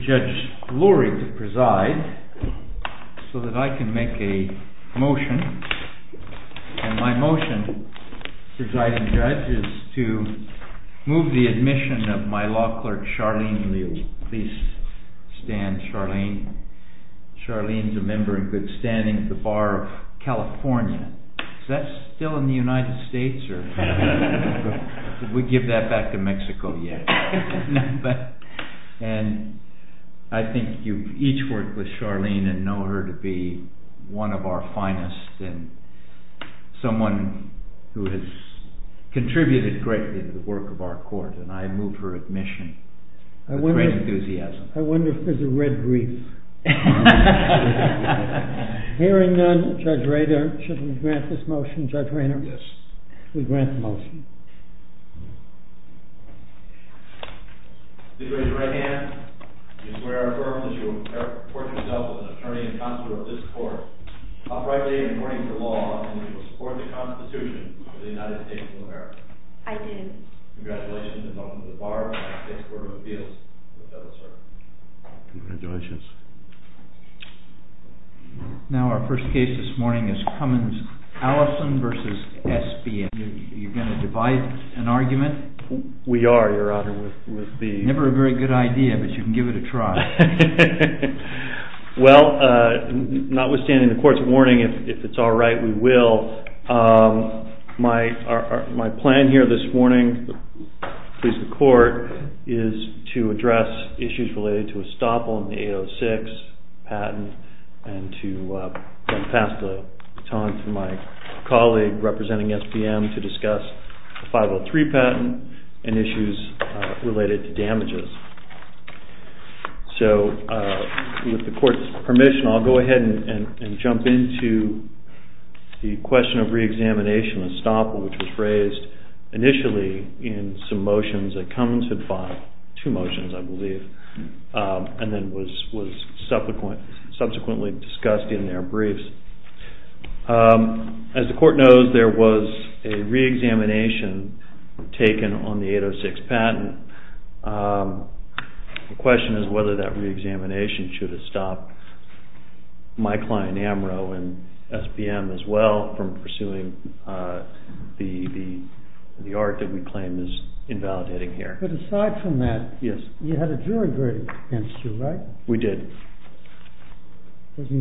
I would like Judge Lurie to preside so that I can make a motion. And my motion, Presiding Judge, is to move the admission of my law clerk, Charlene Lee. Please stand, Charlene. Charlene is a member in good standing at the Bar of California. Is that still in the United States? We give that back to Mexico, yes. And I think you each work with Charlene and know her to be one of our finest and someone who has contributed greatly to the work of our court, and I move her admission with great enthusiasm. I wonder if there's a red brief. Hearing none, Judge Raynard, should we grant this motion? Judge Raynard? Yes. We grant the motion. Please raise your right hand. Do you swear or affirm that you will report yourself as an attorney and consular of this court, uprightly and according to law, and that you will support the Constitution of the United States of America? I do. Congratulations, and welcome to the Bar of California State Court of Appeals. The bill is served. Congratulations. Now our first case this morning is Cummins-Allison v. SBA. Are you going to divide an argument? We are, Your Honor. Never a very good idea, but you can give it a try. Well, notwithstanding the court's warning, if it's all right, we will. My plan here this morning, please the court, is to address issues related to a stop on the 806 patent and to pass the baton to my colleague representing SBM to discuss the 503 patent and issues related to damages. So with the court's permission, I'll go ahead and jump into the question of reexamination, a stop which was raised initially in some motions that Cummins had filed, two motions, I believe, and then was subsequently discussed in their briefs. As the court knows, there was a reexamination taken on the 806 patent. The question is whether that reexamination should have stopped my client, AMRO, and SBM as well from pursuing the art that we claim is invalidating here. But aside from that, you had a jury grade against you, right? We did. Isn't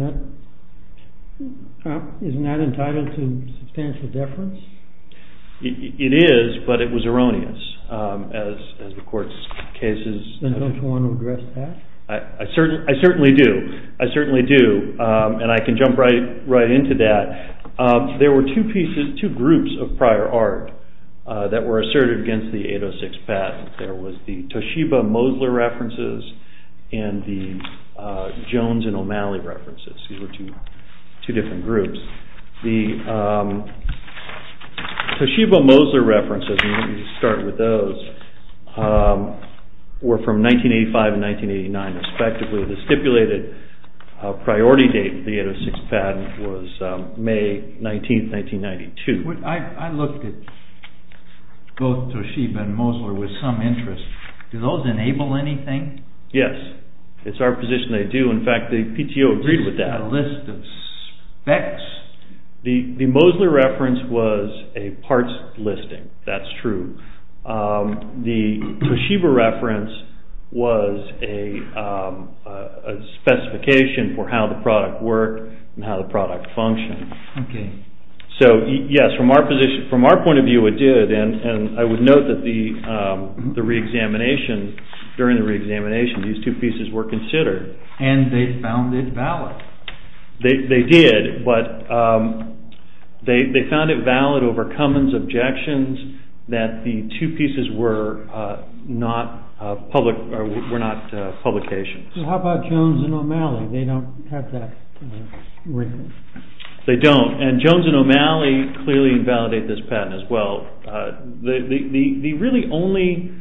that entitled to substantial deference? It is, but it was erroneous, as the court's case is. Then don't you want to address that? I certainly do, and I can jump right into that. There were two groups of prior art that were asserted against the 806 patent. There was the Toshiba-Mosler references and the Jones and O'Malley references. These were two different groups. The Toshiba-Mosler references, and let me just start with those, were from 1985 and 1989 respectively. The stipulated priority date for the 806 patent was May 19, 1992. I looked at both Toshiba and Mosler with some interest. Do those enable anything? Yes, it's our position they do. In fact, the PTO agreed with that. Was there a list of specs? The Mosler reference was a parts listing. That's true. The Toshiba reference was a specification for how the product worked and how the product functioned. So, yes, from our point of view it did, and I would note that during the reexamination, these two pieces were considered. And they found it valid. They did, but they found it valid over Cummins' objections that the two pieces were not publications. How about Jones and O'Malley? They don't have that written. They don't, and Jones and O'Malley clearly invalidate this patent as well. The really only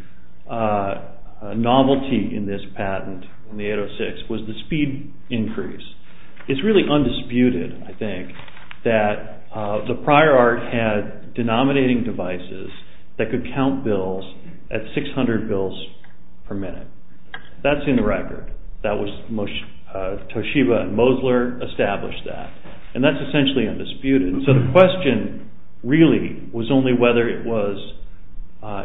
novelty in this patent, in the 806, was the speed increase. It's really undisputed, I think, that the prior art had denominating devices that could count bills at 600 bills per minute. That's in the record. Toshiba and Mosler established that, and that's essentially undisputed. So the question really was only whether it was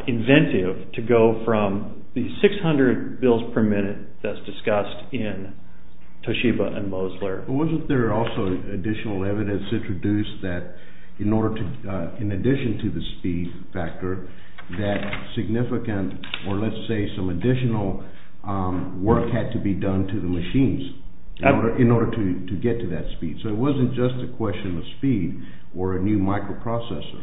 inventive to go from the 600 bills per minute that's discussed in Toshiba and Mosler. Wasn't there also additional evidence introduced that, in addition to the speed factor, that significant or, let's say, some additional work had to be done to the machines in order to get to that speed? So it wasn't just a question of speed or a new microprocessor.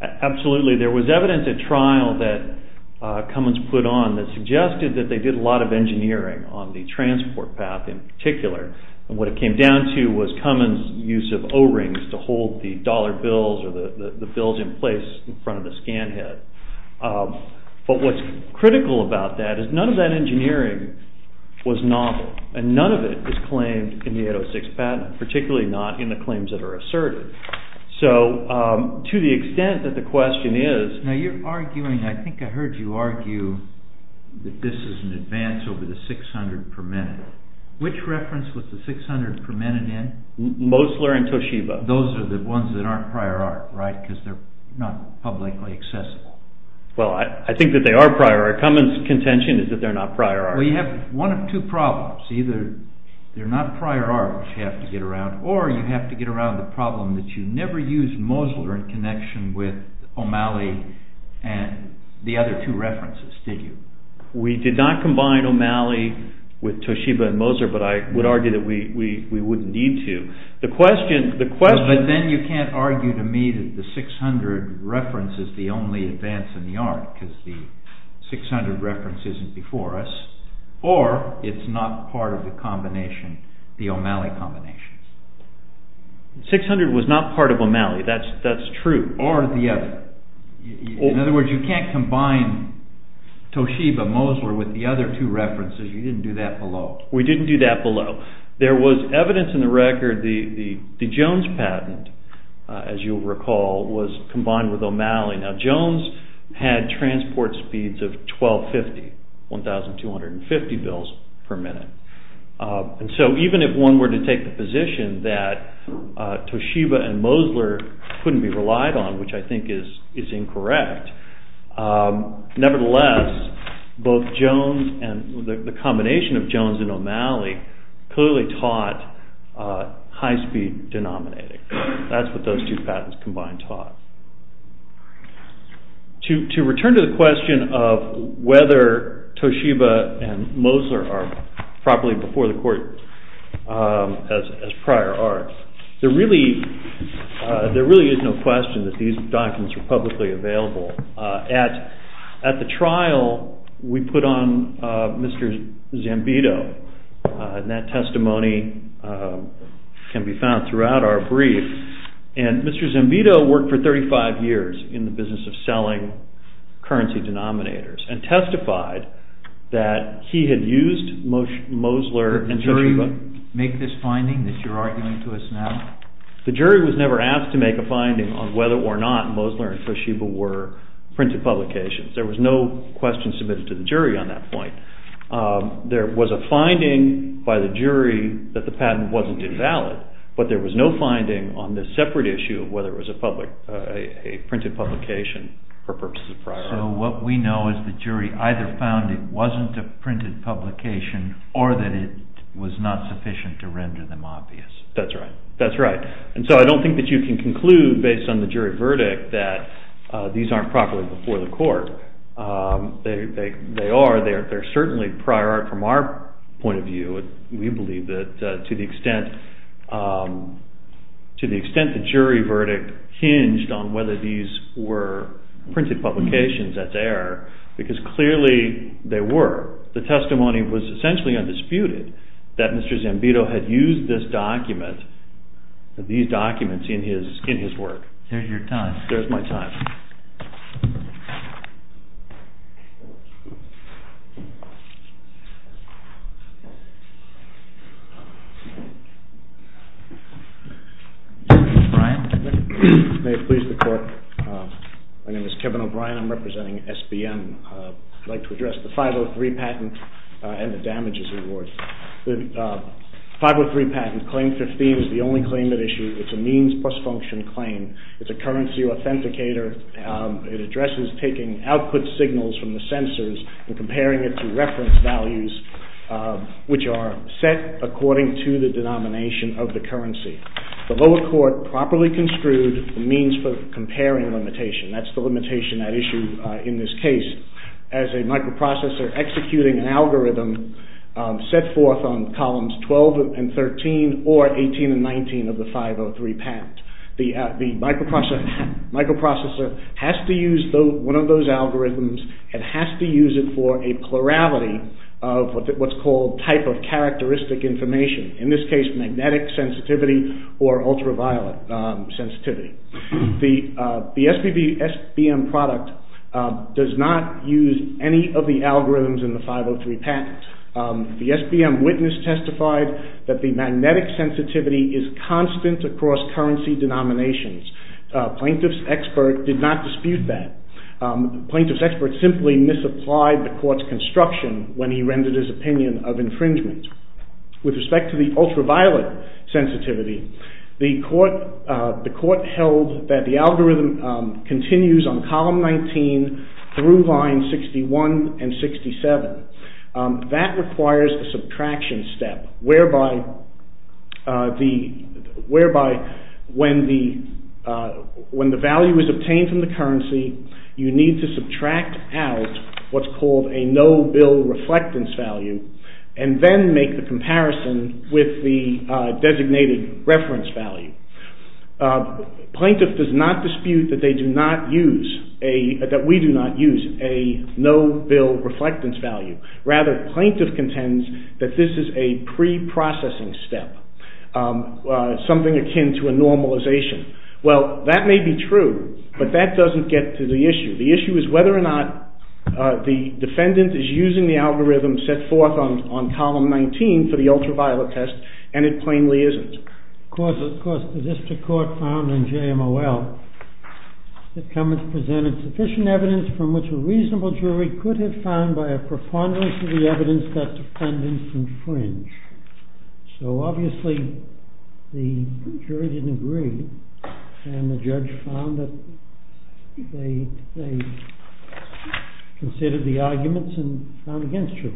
Absolutely. There was evidence at trial that Cummins put on that suggested that they did a lot of engineering on the transport path in particular. What it came down to was Cummins' use of O-rings to hold the dollar bills or the bills in place in front of the scan head. But what's critical about that is none of that engineering was novel, and none of it is claimed in the 806 patent, particularly not in the claims that are asserted. So to the extent that the question is... Now you're arguing, I think I heard you argue, that this is an advance over the 600 per minute. Which reference was the 600 per minute in? Mosler and Toshiba. Those are the ones that aren't prior art, right? Because they're not publicly accessible. Well, I think that they are prior art. Cummins' contention is that they're not prior art. Well, you have one of two problems. Either they're not prior art, which you have to get around, or you have to get around the problem that you never used Mosler in connection with O'Malley and the other two references, did you? We did not combine O'Malley with Toshiba and Mosler, but I would argue that we wouldn't need to. But then you can't argue to me that the 600 reference is the only advance in the art, because the 600 reference isn't before us. Or it's not part of the combination, the O'Malley combination. The 600 was not part of O'Malley, that's true. Or the other. In other words, you can't combine Toshiba and Mosler with the other two references. You didn't do that below. We didn't do that below. There was evidence in the record, the Jones patent, as you'll recall, was combined with O'Malley. Now Jones had transport speeds of 1250, 1,250 bills per minute. And so even if one were to take the position that Toshiba and Mosler couldn't be relied on, which I think is incorrect, nevertheless, both Jones, the combination of Jones and O'Malley, clearly taught high-speed denominating. That's what those two patents combined taught. To return to the question of whether Toshiba and Mosler are properly before the court as prior art, there really is no question that these documents are publicly available. At the trial, we put on Mr. Zambito, and that testimony can be found throughout our brief. And Mr. Zambito worked for 35 years in the business of selling currency denominators and testified that he had used Mosler and Toshiba. Did the jury make this finding that you're arguing to us now? The jury was never asked to make a finding on whether or not Mosler and Toshiba were printed publications. There was no question submitted to the jury on that point. There was a finding by the jury that the patent wasn't invalid, but there was no finding on this separate issue of whether it was a printed publication for purposes of prior art. So what we know is the jury either found it wasn't a printed publication or that it was not sufficient to render them obvious. That's right. And so I don't think that you can conclude based on the jury verdict that these aren't properly before the court. They are. They're certainly prior art from our point of view. We believe that to the extent the jury verdict hinged on whether these were printed publications, that they are, because clearly they were. The testimony was essentially undisputed that Mr. Zambito had used these documents in his work. There's your time. There's my time. Thank you. Mr. O'Brien. May it please the Court. My name is Kevin O'Brien. I'm representing SBM. I'd like to address the 503 patent and the damages it awards. The 503 patent, Claim 15, is the only claim at issue. It's a means plus function claim. It's a currency authenticator. It addresses taking output signals from the sensors and comparing it to reference values which are set according to the denomination of the currency. The lower court properly construed the means for comparing limitation. That's the limitation at issue in this case. As a microprocessor executing an algorithm set forth on columns 12 and 13 or 18 and 19 of the 503 patent, the microprocessor has to use one of those algorithms and has to use it for a plurality of what's called type of characteristic information. In this case, magnetic sensitivity or ultraviolet sensitivity. The SBM product does not use any of the algorithms in the 503 patent. The SBM witness testified that the magnetic sensitivity is constant across currency denominations. Plaintiff's expert did not dispute that. Plaintiff's expert simply misapplied the court's construction when he rendered his opinion of infringement. With respect to the ultraviolet sensitivity, the court held that the algorithm continues on column 19 through line 61 and 67. That requires a subtraction step whereby when the value is obtained from the currency, you need to subtract out what's called a no-bill reflectance value and then make the comparison with the designated reference value. Plaintiff does not dispute that we do not use a no-bill reflectance value. Rather, plaintiff contends that this is a pre-processing step, something akin to a normalization. Well, that may be true, but that doesn't get to the issue. The issue is whether or not the defendant is using the algorithm set forth on column 19 for the ultraviolet test, and it plainly isn't. Of course, the district court found in JMOL that Cummins presented sufficient evidence from which a reasonable jury could have found by a preponderance of the evidence that defendants infringe. So obviously, the jury didn't agree, and the judge found that they considered the arguments and found against you.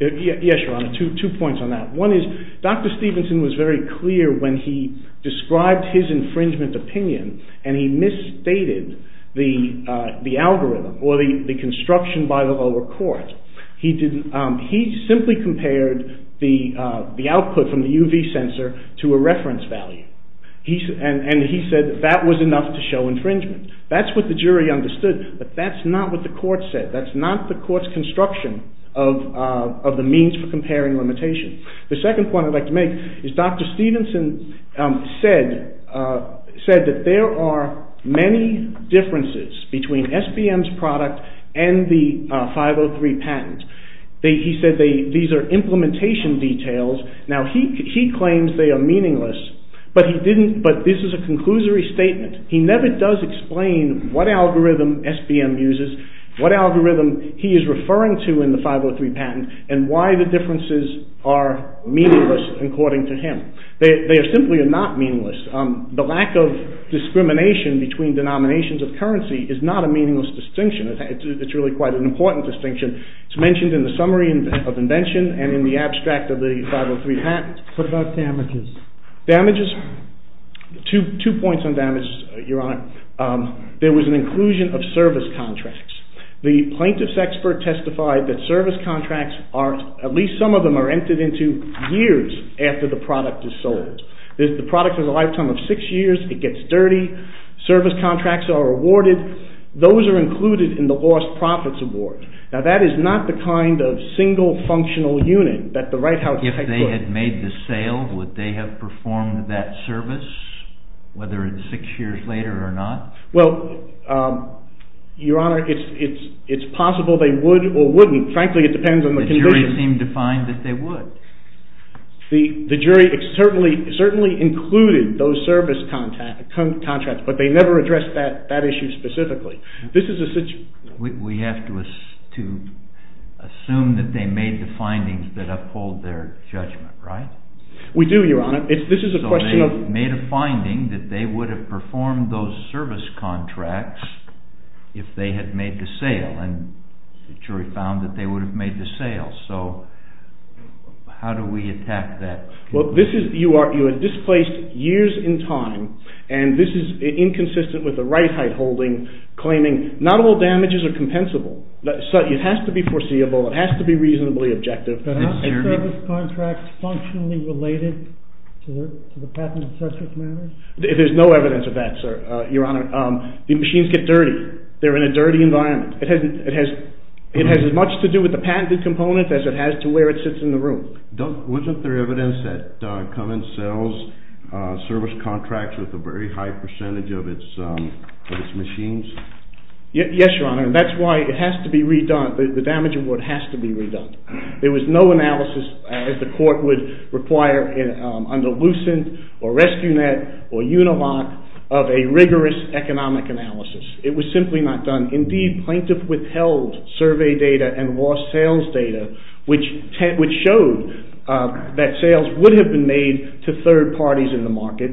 Yes, Your Honor, two points on that. One is, Dr. Stevenson was very clear when he described his infringement opinion and he misstated the algorithm or the construction by the lower court. He simply compared the output from the UV sensor to a reference value, and he said that was enough to show infringement. That's what the jury understood, but that's not what the court said. That's not the court's construction of the means for comparing limitations. The second point I'd like to make is Dr. Stevenson said that there are many differences between SBM's product and the 503 patent. He said these are implementation details. Now, he claims they are meaningless, but this is a conclusory statement. He never does explain what algorithm SBM uses, what algorithm he is referring to in the 503 patent, and why the differences are meaningless, according to him. They are simply not meaningless. The lack of discrimination between denominations of currency is not a meaningless distinction. It's really quite an important distinction. It's mentioned in the summary of invention and in the abstract of the 503 patent. What about damages? Damages? Two points on damages, Your Honor. There was an inclusion of service contracts. The plaintiff's expert testified that service contracts, at least some of them, are entered into years after the product is sold. The product has a lifetime of six years, it gets dirty, service contracts are awarded. Those are included in the lost profits award. Now, that is not the kind of single functional unit that the White House... If they had made the sale, would they have performed that service, whether it's six years later or not? Well, Your Honor, it's possible they would or wouldn't. Frankly, it depends on the condition. The jury seemed to find that they would. The jury certainly included those service contracts, but they never addressed that issue specifically. This is a situation... We have to assume that they made the findings that uphold their judgment, right? We do, Your Honor. This is a question of... So they made a finding that they would have performed those service contracts if they had made the sale, and the jury found that they would have made the sale. So how do we attack that? Well, you are displaced years in time, and this is inconsistent with the right height holding, claiming not all damages are compensable. It has to be foreseeable. It has to be reasonably objective. Are the service contracts functionally related to the patented subject matters? There's no evidence of that, sir, Your Honor. The machines get dirty. They're in a dirty environment. It has as much to do with the patented component as it has to where it sits in the room. Wasn't there evidence that Cummins sells service contracts with a very high percentage of its machines? Yes, Your Honor, and that's why it has to be redone. The damage award has to be redone. There was no analysis, as the court would require, under Lucent or RescueNet or Unilat, of a rigorous economic analysis. It was simply not done. Indeed, plaintiffs withheld survey data and lost sales data, which showed that sales would have been made to third parties in the market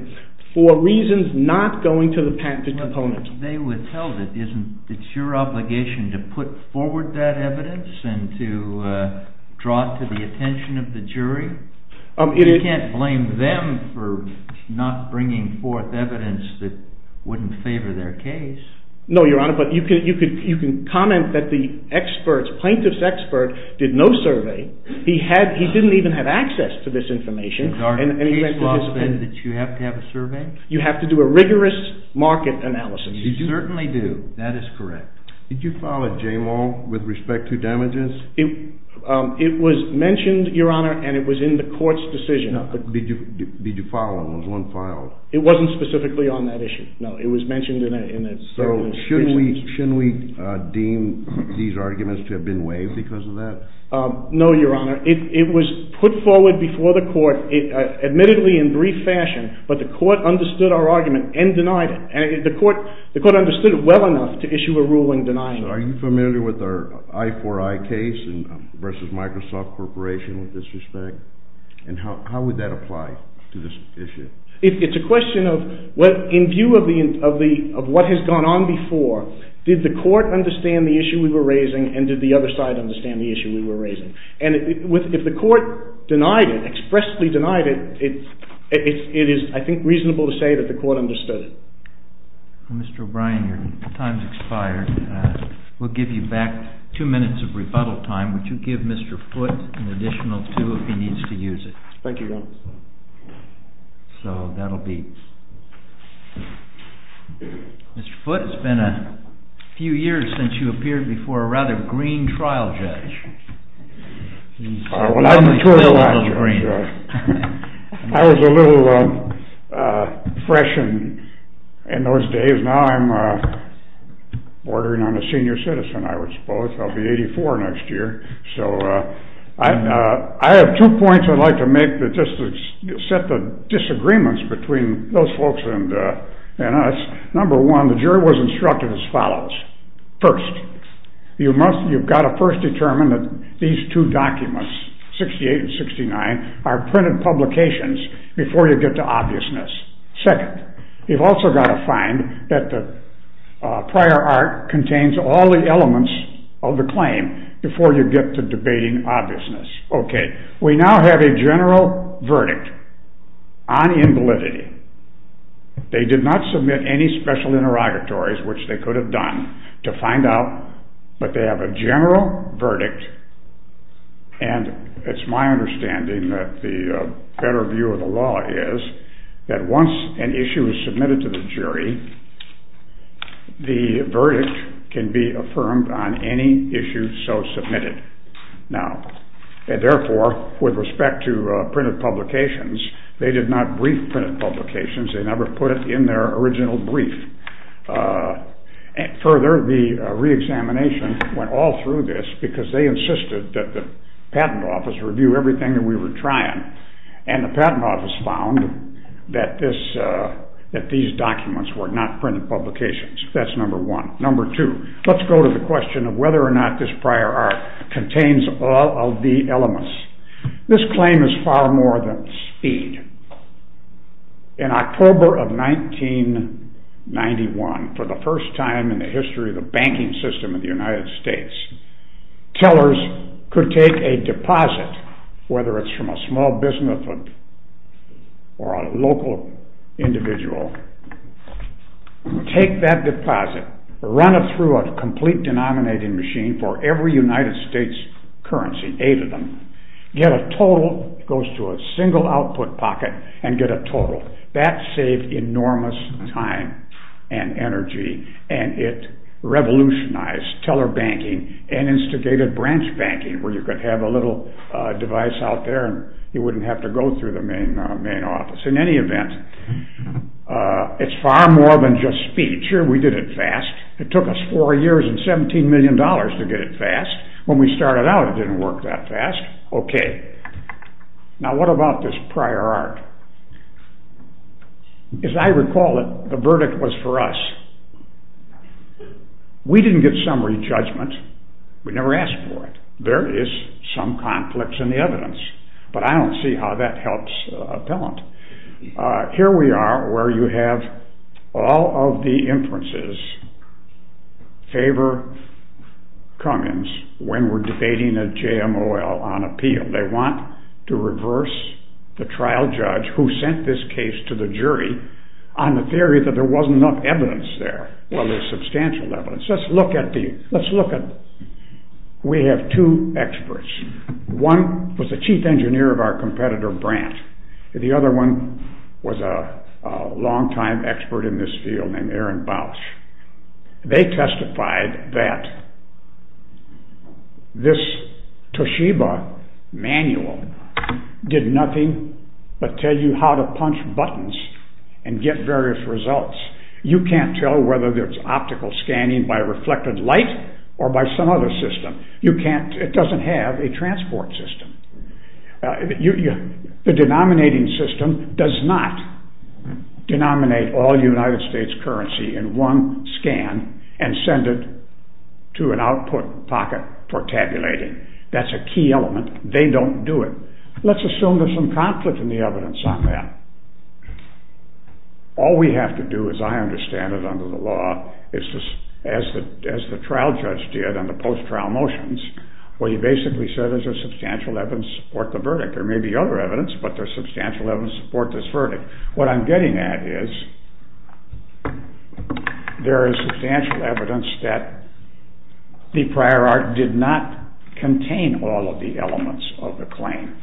for reasons not going to the patented component. They withheld it. Isn't it your obligation to put forward that evidence and to draw it to the attention of the jury? You can't blame them for not bringing forth evidence that wouldn't favor their case. No, Your Honor, but you can comment that the plaintiff's expert did no survey. He didn't even have access to this information. Is our case law that you have to have a survey? You have to do a rigorous market analysis. You certainly do. That is correct. Did you file a J-Mall with respect to damages? It was mentioned, Your Honor, and it was in the court's decision. Did you file one? Was one filed? It wasn't specifically on that issue, no. So shouldn't we deem these arguments to have been waived because of that? No, Your Honor. It was put forward before the court, admittedly in brief fashion, but the court understood our argument and denied it. The court understood it well enough to issue a ruling denying it. So are you familiar with our I-4-I case versus Microsoft Corporation with this respect? And how would that apply to this issue? It's a question of, in view of what has gone on before, did the court understand the issue we were raising and did the other side understand the issue we were raising? And if the court denied it, expressly denied it, it is, I think, reasonable to say that the court understood it. Mr. O'Brien, your time has expired. We'll give you back two minutes of rebuttal time. Would you give Mr. Foote an additional two if he needs to use it? Thank you, Your Honor. So that'll be... Mr. Foote, it's been a few years since you appeared before a rather green trial judge. Well, I've matured a lot. I was a little fresh in those days. Now I'm bordering on a senior citizen, I would suppose. I'll be 84 next year. I have two points I'd like to make just to set the disagreements between those folks and us. Number one, the jury was instructed as follows. First, you've got to first determine that these two documents, 68 and 69, are printed publications before you get to obviousness. Second, you've also got to find that the prior art contains all the elements of the claim before you get to debating obviousness. We now have a general verdict on invalidity. They did not submit any special interrogatories, which they could have done, to find out, but they have a general verdict, and it's my understanding that the better view of the law is that once an issue is submitted to the jury, the verdict can be affirmed on any issue so submitted. Now, therefore, with respect to printed publications, they did not brief printed publications. They never put it in their original brief. Further, the reexamination went all through this because they insisted that the patent office review everything that we were trying, and the patent office found that these documents were not printed publications. That's number one. Number two, let's go to the question of whether or not this prior art contains all of the elements. This claim is far more than speed. In October of 1991, for the first time in the history tellers could take a deposit, whether it's from a small business or a local individual, take that deposit, run it through a complete denominating machine for every United States currency, eight of them, get a total, goes to a single output pocket, and get a total. That saved enormous time and energy, and it revolutionized teller banking and instigated branch banking, where you could have a little device out there and you wouldn't have to go through the main office. In any event, it's far more than just speed. Sure, we did it fast. It took us four years and $17 million to get it fast. When we started out, it didn't work that fast. Okay, now what about this prior art? As I recall it, the verdict was for us. We didn't get summary judgment. We never asked for it. There is some conflicts in the evidence, but I don't see how that helps appellant. Here we are where you have all of the inferences favor Cummins when we're debating a JMOL on appeal. They want to reverse the trial judge who sent this case to the jury on the theory that there wasn't enough evidence there. Well, there's substantial evidence. Let's look at, we have two experts. One was the chief engineer of our competitor, Brandt. The other one was a long-time expert in this field named Aaron Bausch. They testified that this Toshiba manual did nothing but tell you how to punch buttons and get various results. You can't tell whether there's optical scanning by reflected light or by some other system. It doesn't have a transport system. The denominating system does not denominate all United States currency in one scan and send it to an output pocket for tabulating. That's a key element. They don't do it. Let's assume there's some conflict in the evidence on that. All we have to do, as I understand it under the law, as the trial judge did on the post-trial motions, what he basically said is there's substantial evidence to support the verdict. There may be other evidence, but there's substantial evidence to support this verdict. What I'm getting at is there is substantial evidence that the prior art did not contain all of the elements of the claim.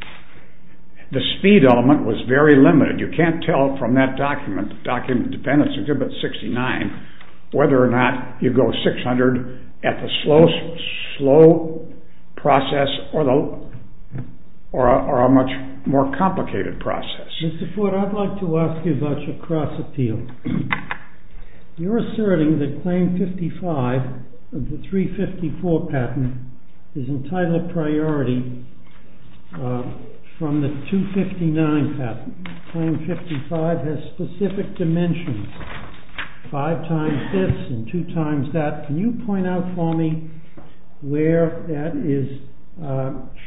The speed element was very limited. You can't tell from that document, Dependence Exhibit 69, whether or not you go 600 at the slow process or a much more complicated process. Mr. Ford, I'd like to ask you about your cross-appeal. You're asserting that Claim 55 of the 354 patent is entitled priority from the 259 patent. Claim 55 has specific dimensions, 5 times this and 2 times that. Can you point out for me where that is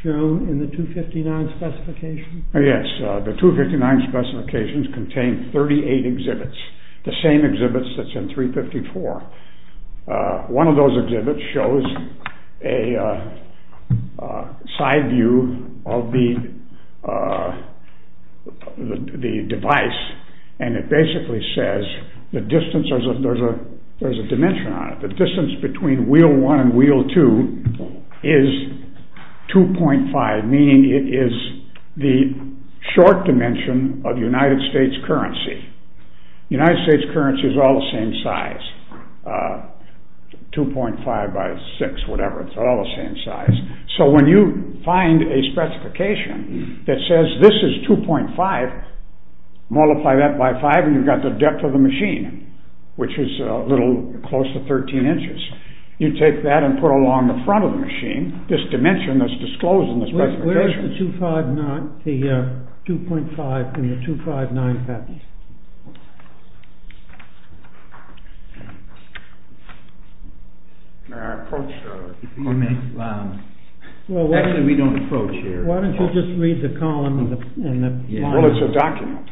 shown in the 259 specification? Yes. The 259 specifications contain 38 exhibits, the same exhibits that's in 354. One of those exhibits shows a side view of the device and it basically says the distance, there's a dimension on it, the distance between wheel 1 and wheel 2 is 2.5, meaning it is the short dimension of United States currency. United States currency is all the same size, 2.5 by 6, whatever, it's all the same size. So when you find a specification that says this is 2.5, multiply that by 5 and you've got the depth of the machine, which is a little close to 13 inches. You take that and put it along the front of the machine, this dimension that's disclosed in the specification. Where is the 259, the 2.5 from the 259 patent? May I approach? Actually, we don't approach here. Why don't you just read the column? Well, it's a document.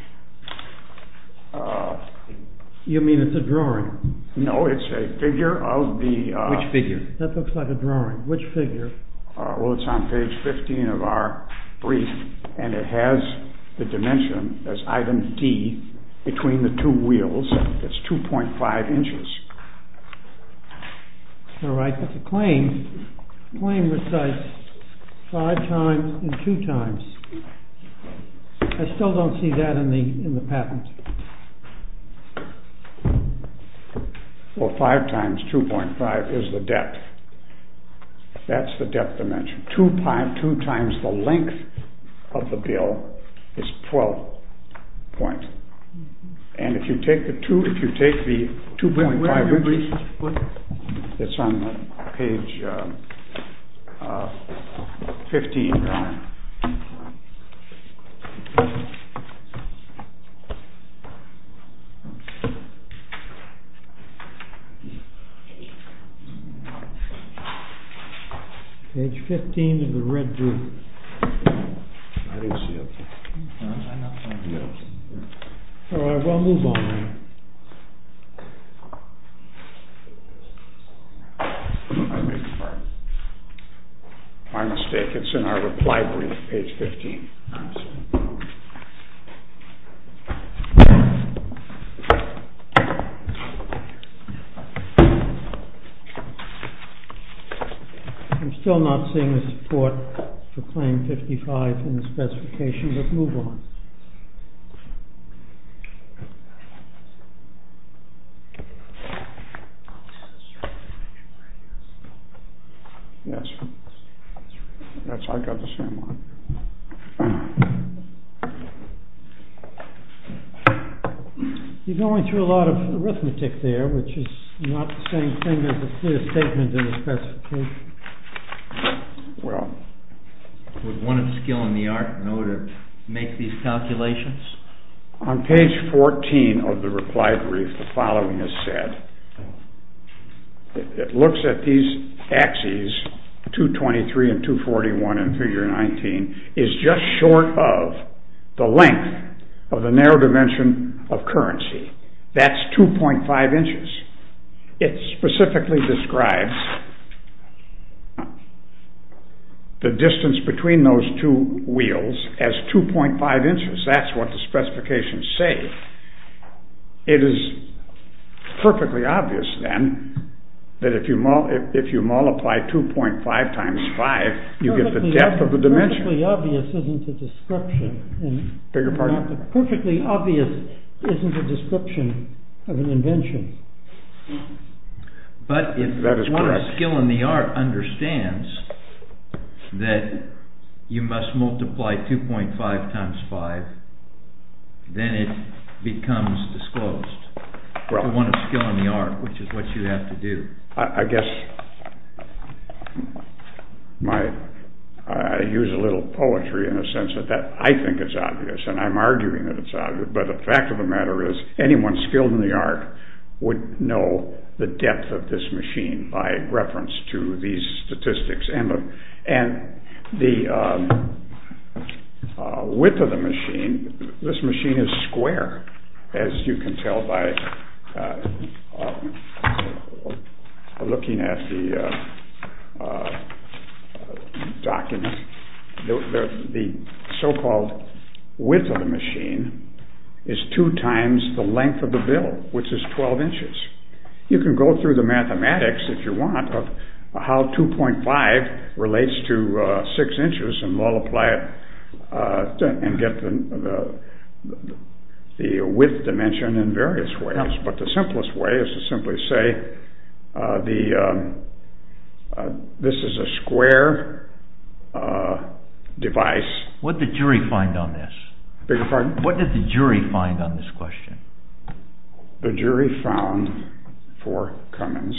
You mean it's a drawing? No, it's a figure of the... Which figure? That looks like a drawing. Which figure? Well, it's on page 15 of our brief and it has the dimension as item D between the two wheels. It's 2.5 inches. All right, but the claim, the claim recites 5 times and 2 times. I still don't see that in the patent. Well, 5 times 2.5 is the depth. That's the depth dimension. And 2 times the length of the bill is 12 point. And if you take the 2.5 inches... Wait a minute, please. It's on page 15. Here we go. Page 15 of the red brief. All right, we'll move on. I beg your pardon. My mistake. It's in our reply brief, page 15. I'm still not seeing the support for claim 55 in the specification, but move on. Yes, I got the same one. You're going through a lot of arithmetic there, which is not the same thing as a clear statement in the specification. Well, with one of the skill in the art, make these calculations. On page 14 of the reply brief, the following is said. It looks at these axes, 223 and 241 in figure 19, is just short of the length of the narrow dimension of currency. That's 2.5 inches. It specifically describes the distance between those two wheels as 2.5 inches. That's what the specifications say. It is perfectly obvious, then, that if you multiply 2.5 times 5, you get the depth of the dimension. Beg your pardon? That is correct. But if one of the skill in the art understands that you must multiply 2.5 times 5, then it becomes disclosed to one of the skill in the art, which is what you have to do. I use a little poetry in a sense that I think it's obvious, and I'm arguing that it's obvious, but the fact of the matter is anyone skilled in the art would know the depth of this machine by reference to these statistics. And the width of the machine, this machine is square, as you can tell by looking at the documents. The so-called width of the machine is 2 times the length of the bill, which is 12 inches. You can go through the mathematics, if you want, of how 2.5 relates to 6 inches, and we'll apply it and get the width dimension in various ways. But the simplest way is to simply say this is a square device. What did the jury find on this? What did the jury find on this question? The jury found four commons.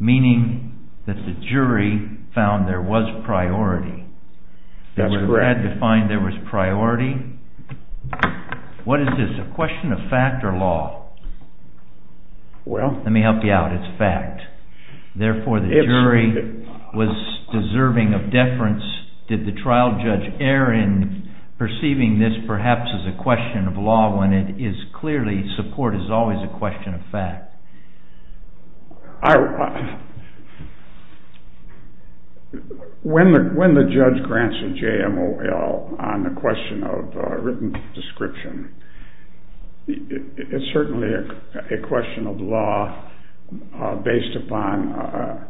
Meaning that the jury found there was priority. They were glad to find there was priority. What is this, a question of fact or law? Let me help you out, it's fact. Therefore, the jury was deserving of deference. Did the trial judge err in perceiving this perhaps as a question of law when it is clearly support is always a question of fact? When the judge grants a JMOL on the question of written description, it's certainly a question of law based upon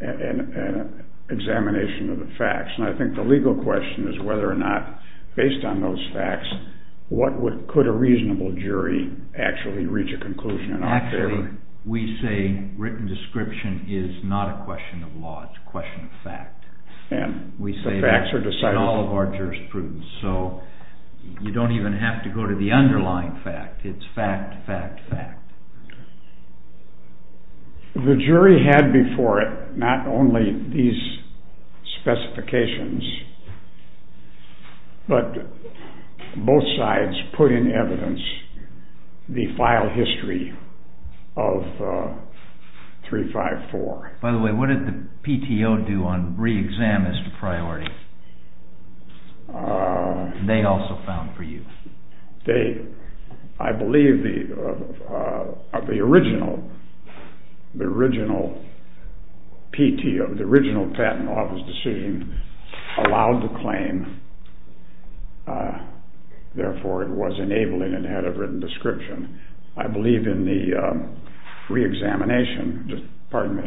an examination of the facts. I think the legal question is whether or not, based on those facts, could a reasonable jury actually reach a conclusion? Actually, we say written description is not a question of law, it's a question of fact. We say that in all of our jurisprudence. So you don't even have to go to the underlying fact. It's fact, fact, fact. The jury had before it not only these specifications, but both sides put in evidence the file history of 354. By the way, what did the PTO do on re-exam as to priority? They also found for you. I believe the original PTO, the original patent office decision, allowed the claim, therefore it was enabling and had a written description. I believe in the re-examination. Pardon me.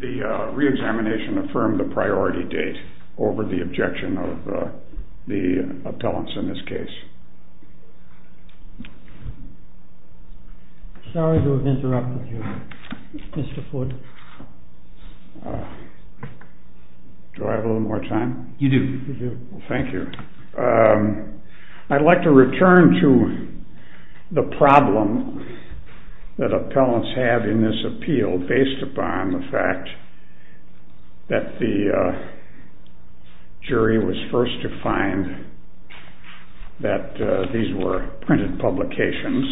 The re-examination affirmed the priority date over the objection of the appellants in this case. Sorry to have interrupted you, Mr. Ford. Do I have a little more time? You do. Thank you. I'd like to return to the problem that appellants have in this appeal based upon the fact that the jury was first to find that these were printed publications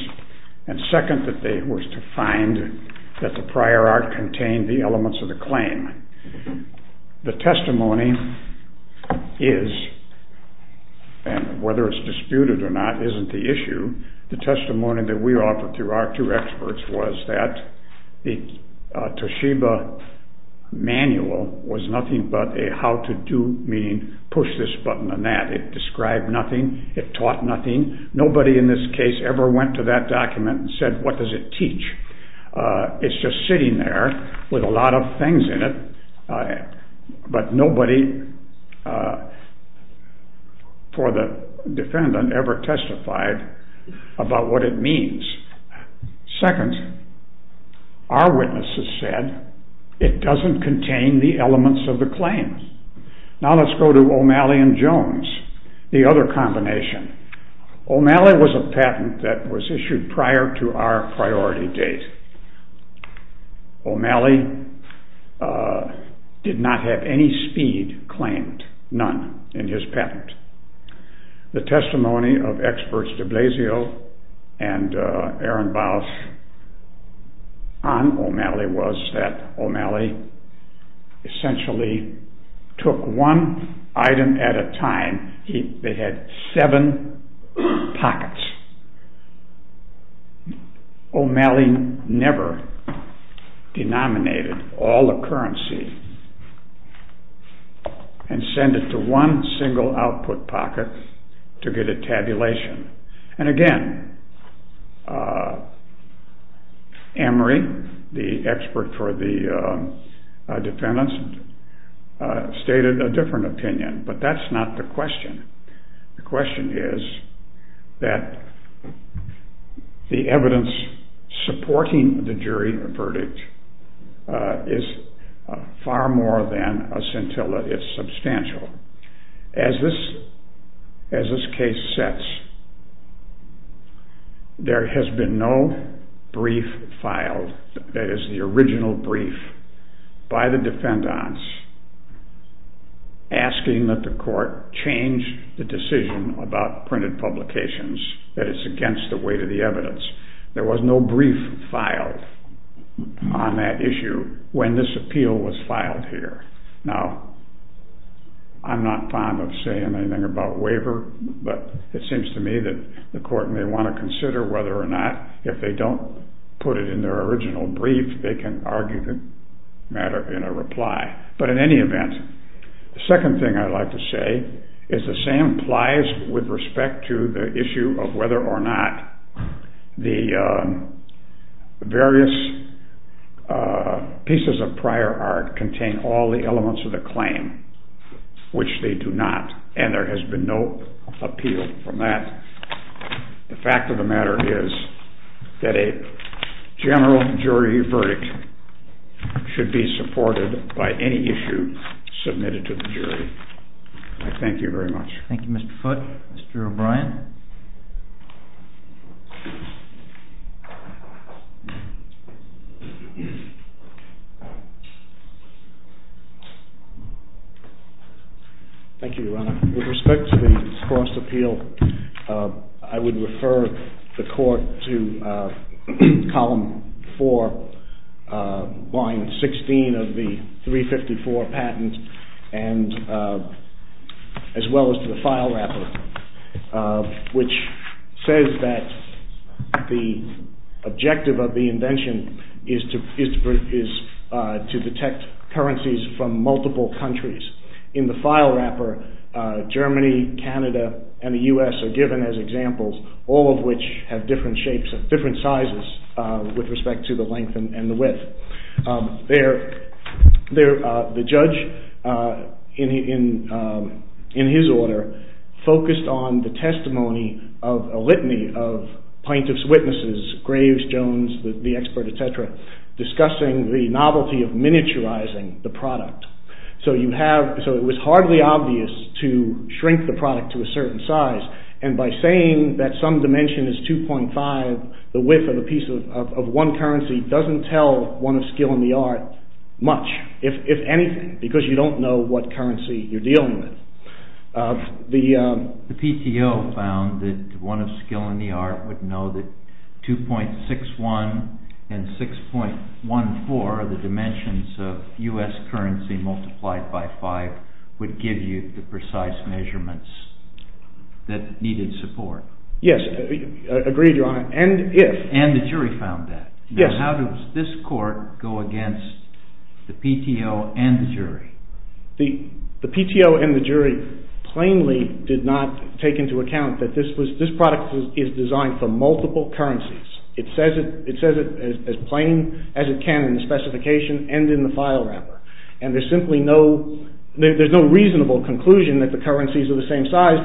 and second that they were to find that the prior art contained the elements of the claim. The testimony is, and whether it's disputed or not isn't the issue, the testimony that we offered through our two experts was that the Toshiba manual was nothing but a how-to-do, meaning push this button and that. It described nothing. It taught nothing. Nobody in this case ever went to that document and said what does it teach? It's just sitting there with a lot of things in it, but nobody for the defendant ever testified about what it means. Second, our witnesses said it doesn't contain the elements of the claim. Now let's go to O'Malley and Jones, the other combination. O'Malley was a patent that was issued prior to our priority date. O'Malley did not have any speed claimed, none in his patent. The testimony of experts de Blasio and Ehrenbaus on O'Malley was that O'Malley essentially took one item at a time. They had seven pockets. O'Malley never denominated all the currency and sent it to one single output pocket to get a tabulation. And again, Emory, the expert for the defendants, stated a different opinion, but that's not the question. The question is that the evidence supporting the jury verdict is far more than a scintilla. It's substantial. As this case sets, there has been no brief filed, that is the original brief, by the defendants asking that the court change the decision about printed publications, that it's against the weight of the evidence. There was no brief filed on that issue when this appeal was filed here. Now, I'm not fond of saying anything about waiver, but it seems to me that the court may want to consider whether or not if they don't put it in their original brief, they can argue the matter in a reply. But in any event, the second thing I'd like to say is the same applies with respect to the issue of whether or not the various pieces of prior art contain all the elements of the claim, which they do not. And there has been no appeal from that. The fact of the matter is that a general jury verdict should be supported by any issue submitted to the jury. I thank you very much. Thank you, Mr. Foote. Mr. O'Brien. Thank you, Your Honor. With respect to the forced appeal, I would refer the court to column 4, line 16 of the 354 patent, as well as to the file wrapper, which says that the objective of the invention is to detect currencies from multiple countries. In the file wrapper, Germany, Canada, and the U.S. are given as examples, all of which have different sizes with respect to the length and the width. The judge, in his order, focused on the testimony of a litany of plaintiff's witnesses, Graves, Jones, the expert, etc., discussing the novelty of miniaturizing the product. So it was hardly obvious to shrink the product to a certain size. And by saying that some dimension is 2.5, the width of one currency doesn't tell one of skill and the art much, if anything, because you don't know what currency you're dealing with. The PTO found that one of skill and the art would know that 2.61 and 6.14 are the dimensions of U.S. currency multiplied by 5 would give you the precise measurements that needed support. Yes, agreed, Your Honor. And the jury found that. Now how does this court go against the PTO and the jury? The PTO and the jury plainly did not take into account that this product is designed for multiple currencies. It says it as plain as it can in the specification and in the file wrapper. And there's simply no... there's no reasonable conclusion that the currencies are the same size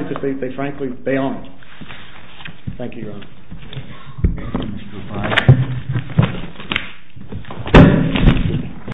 Thank you, Your Honor.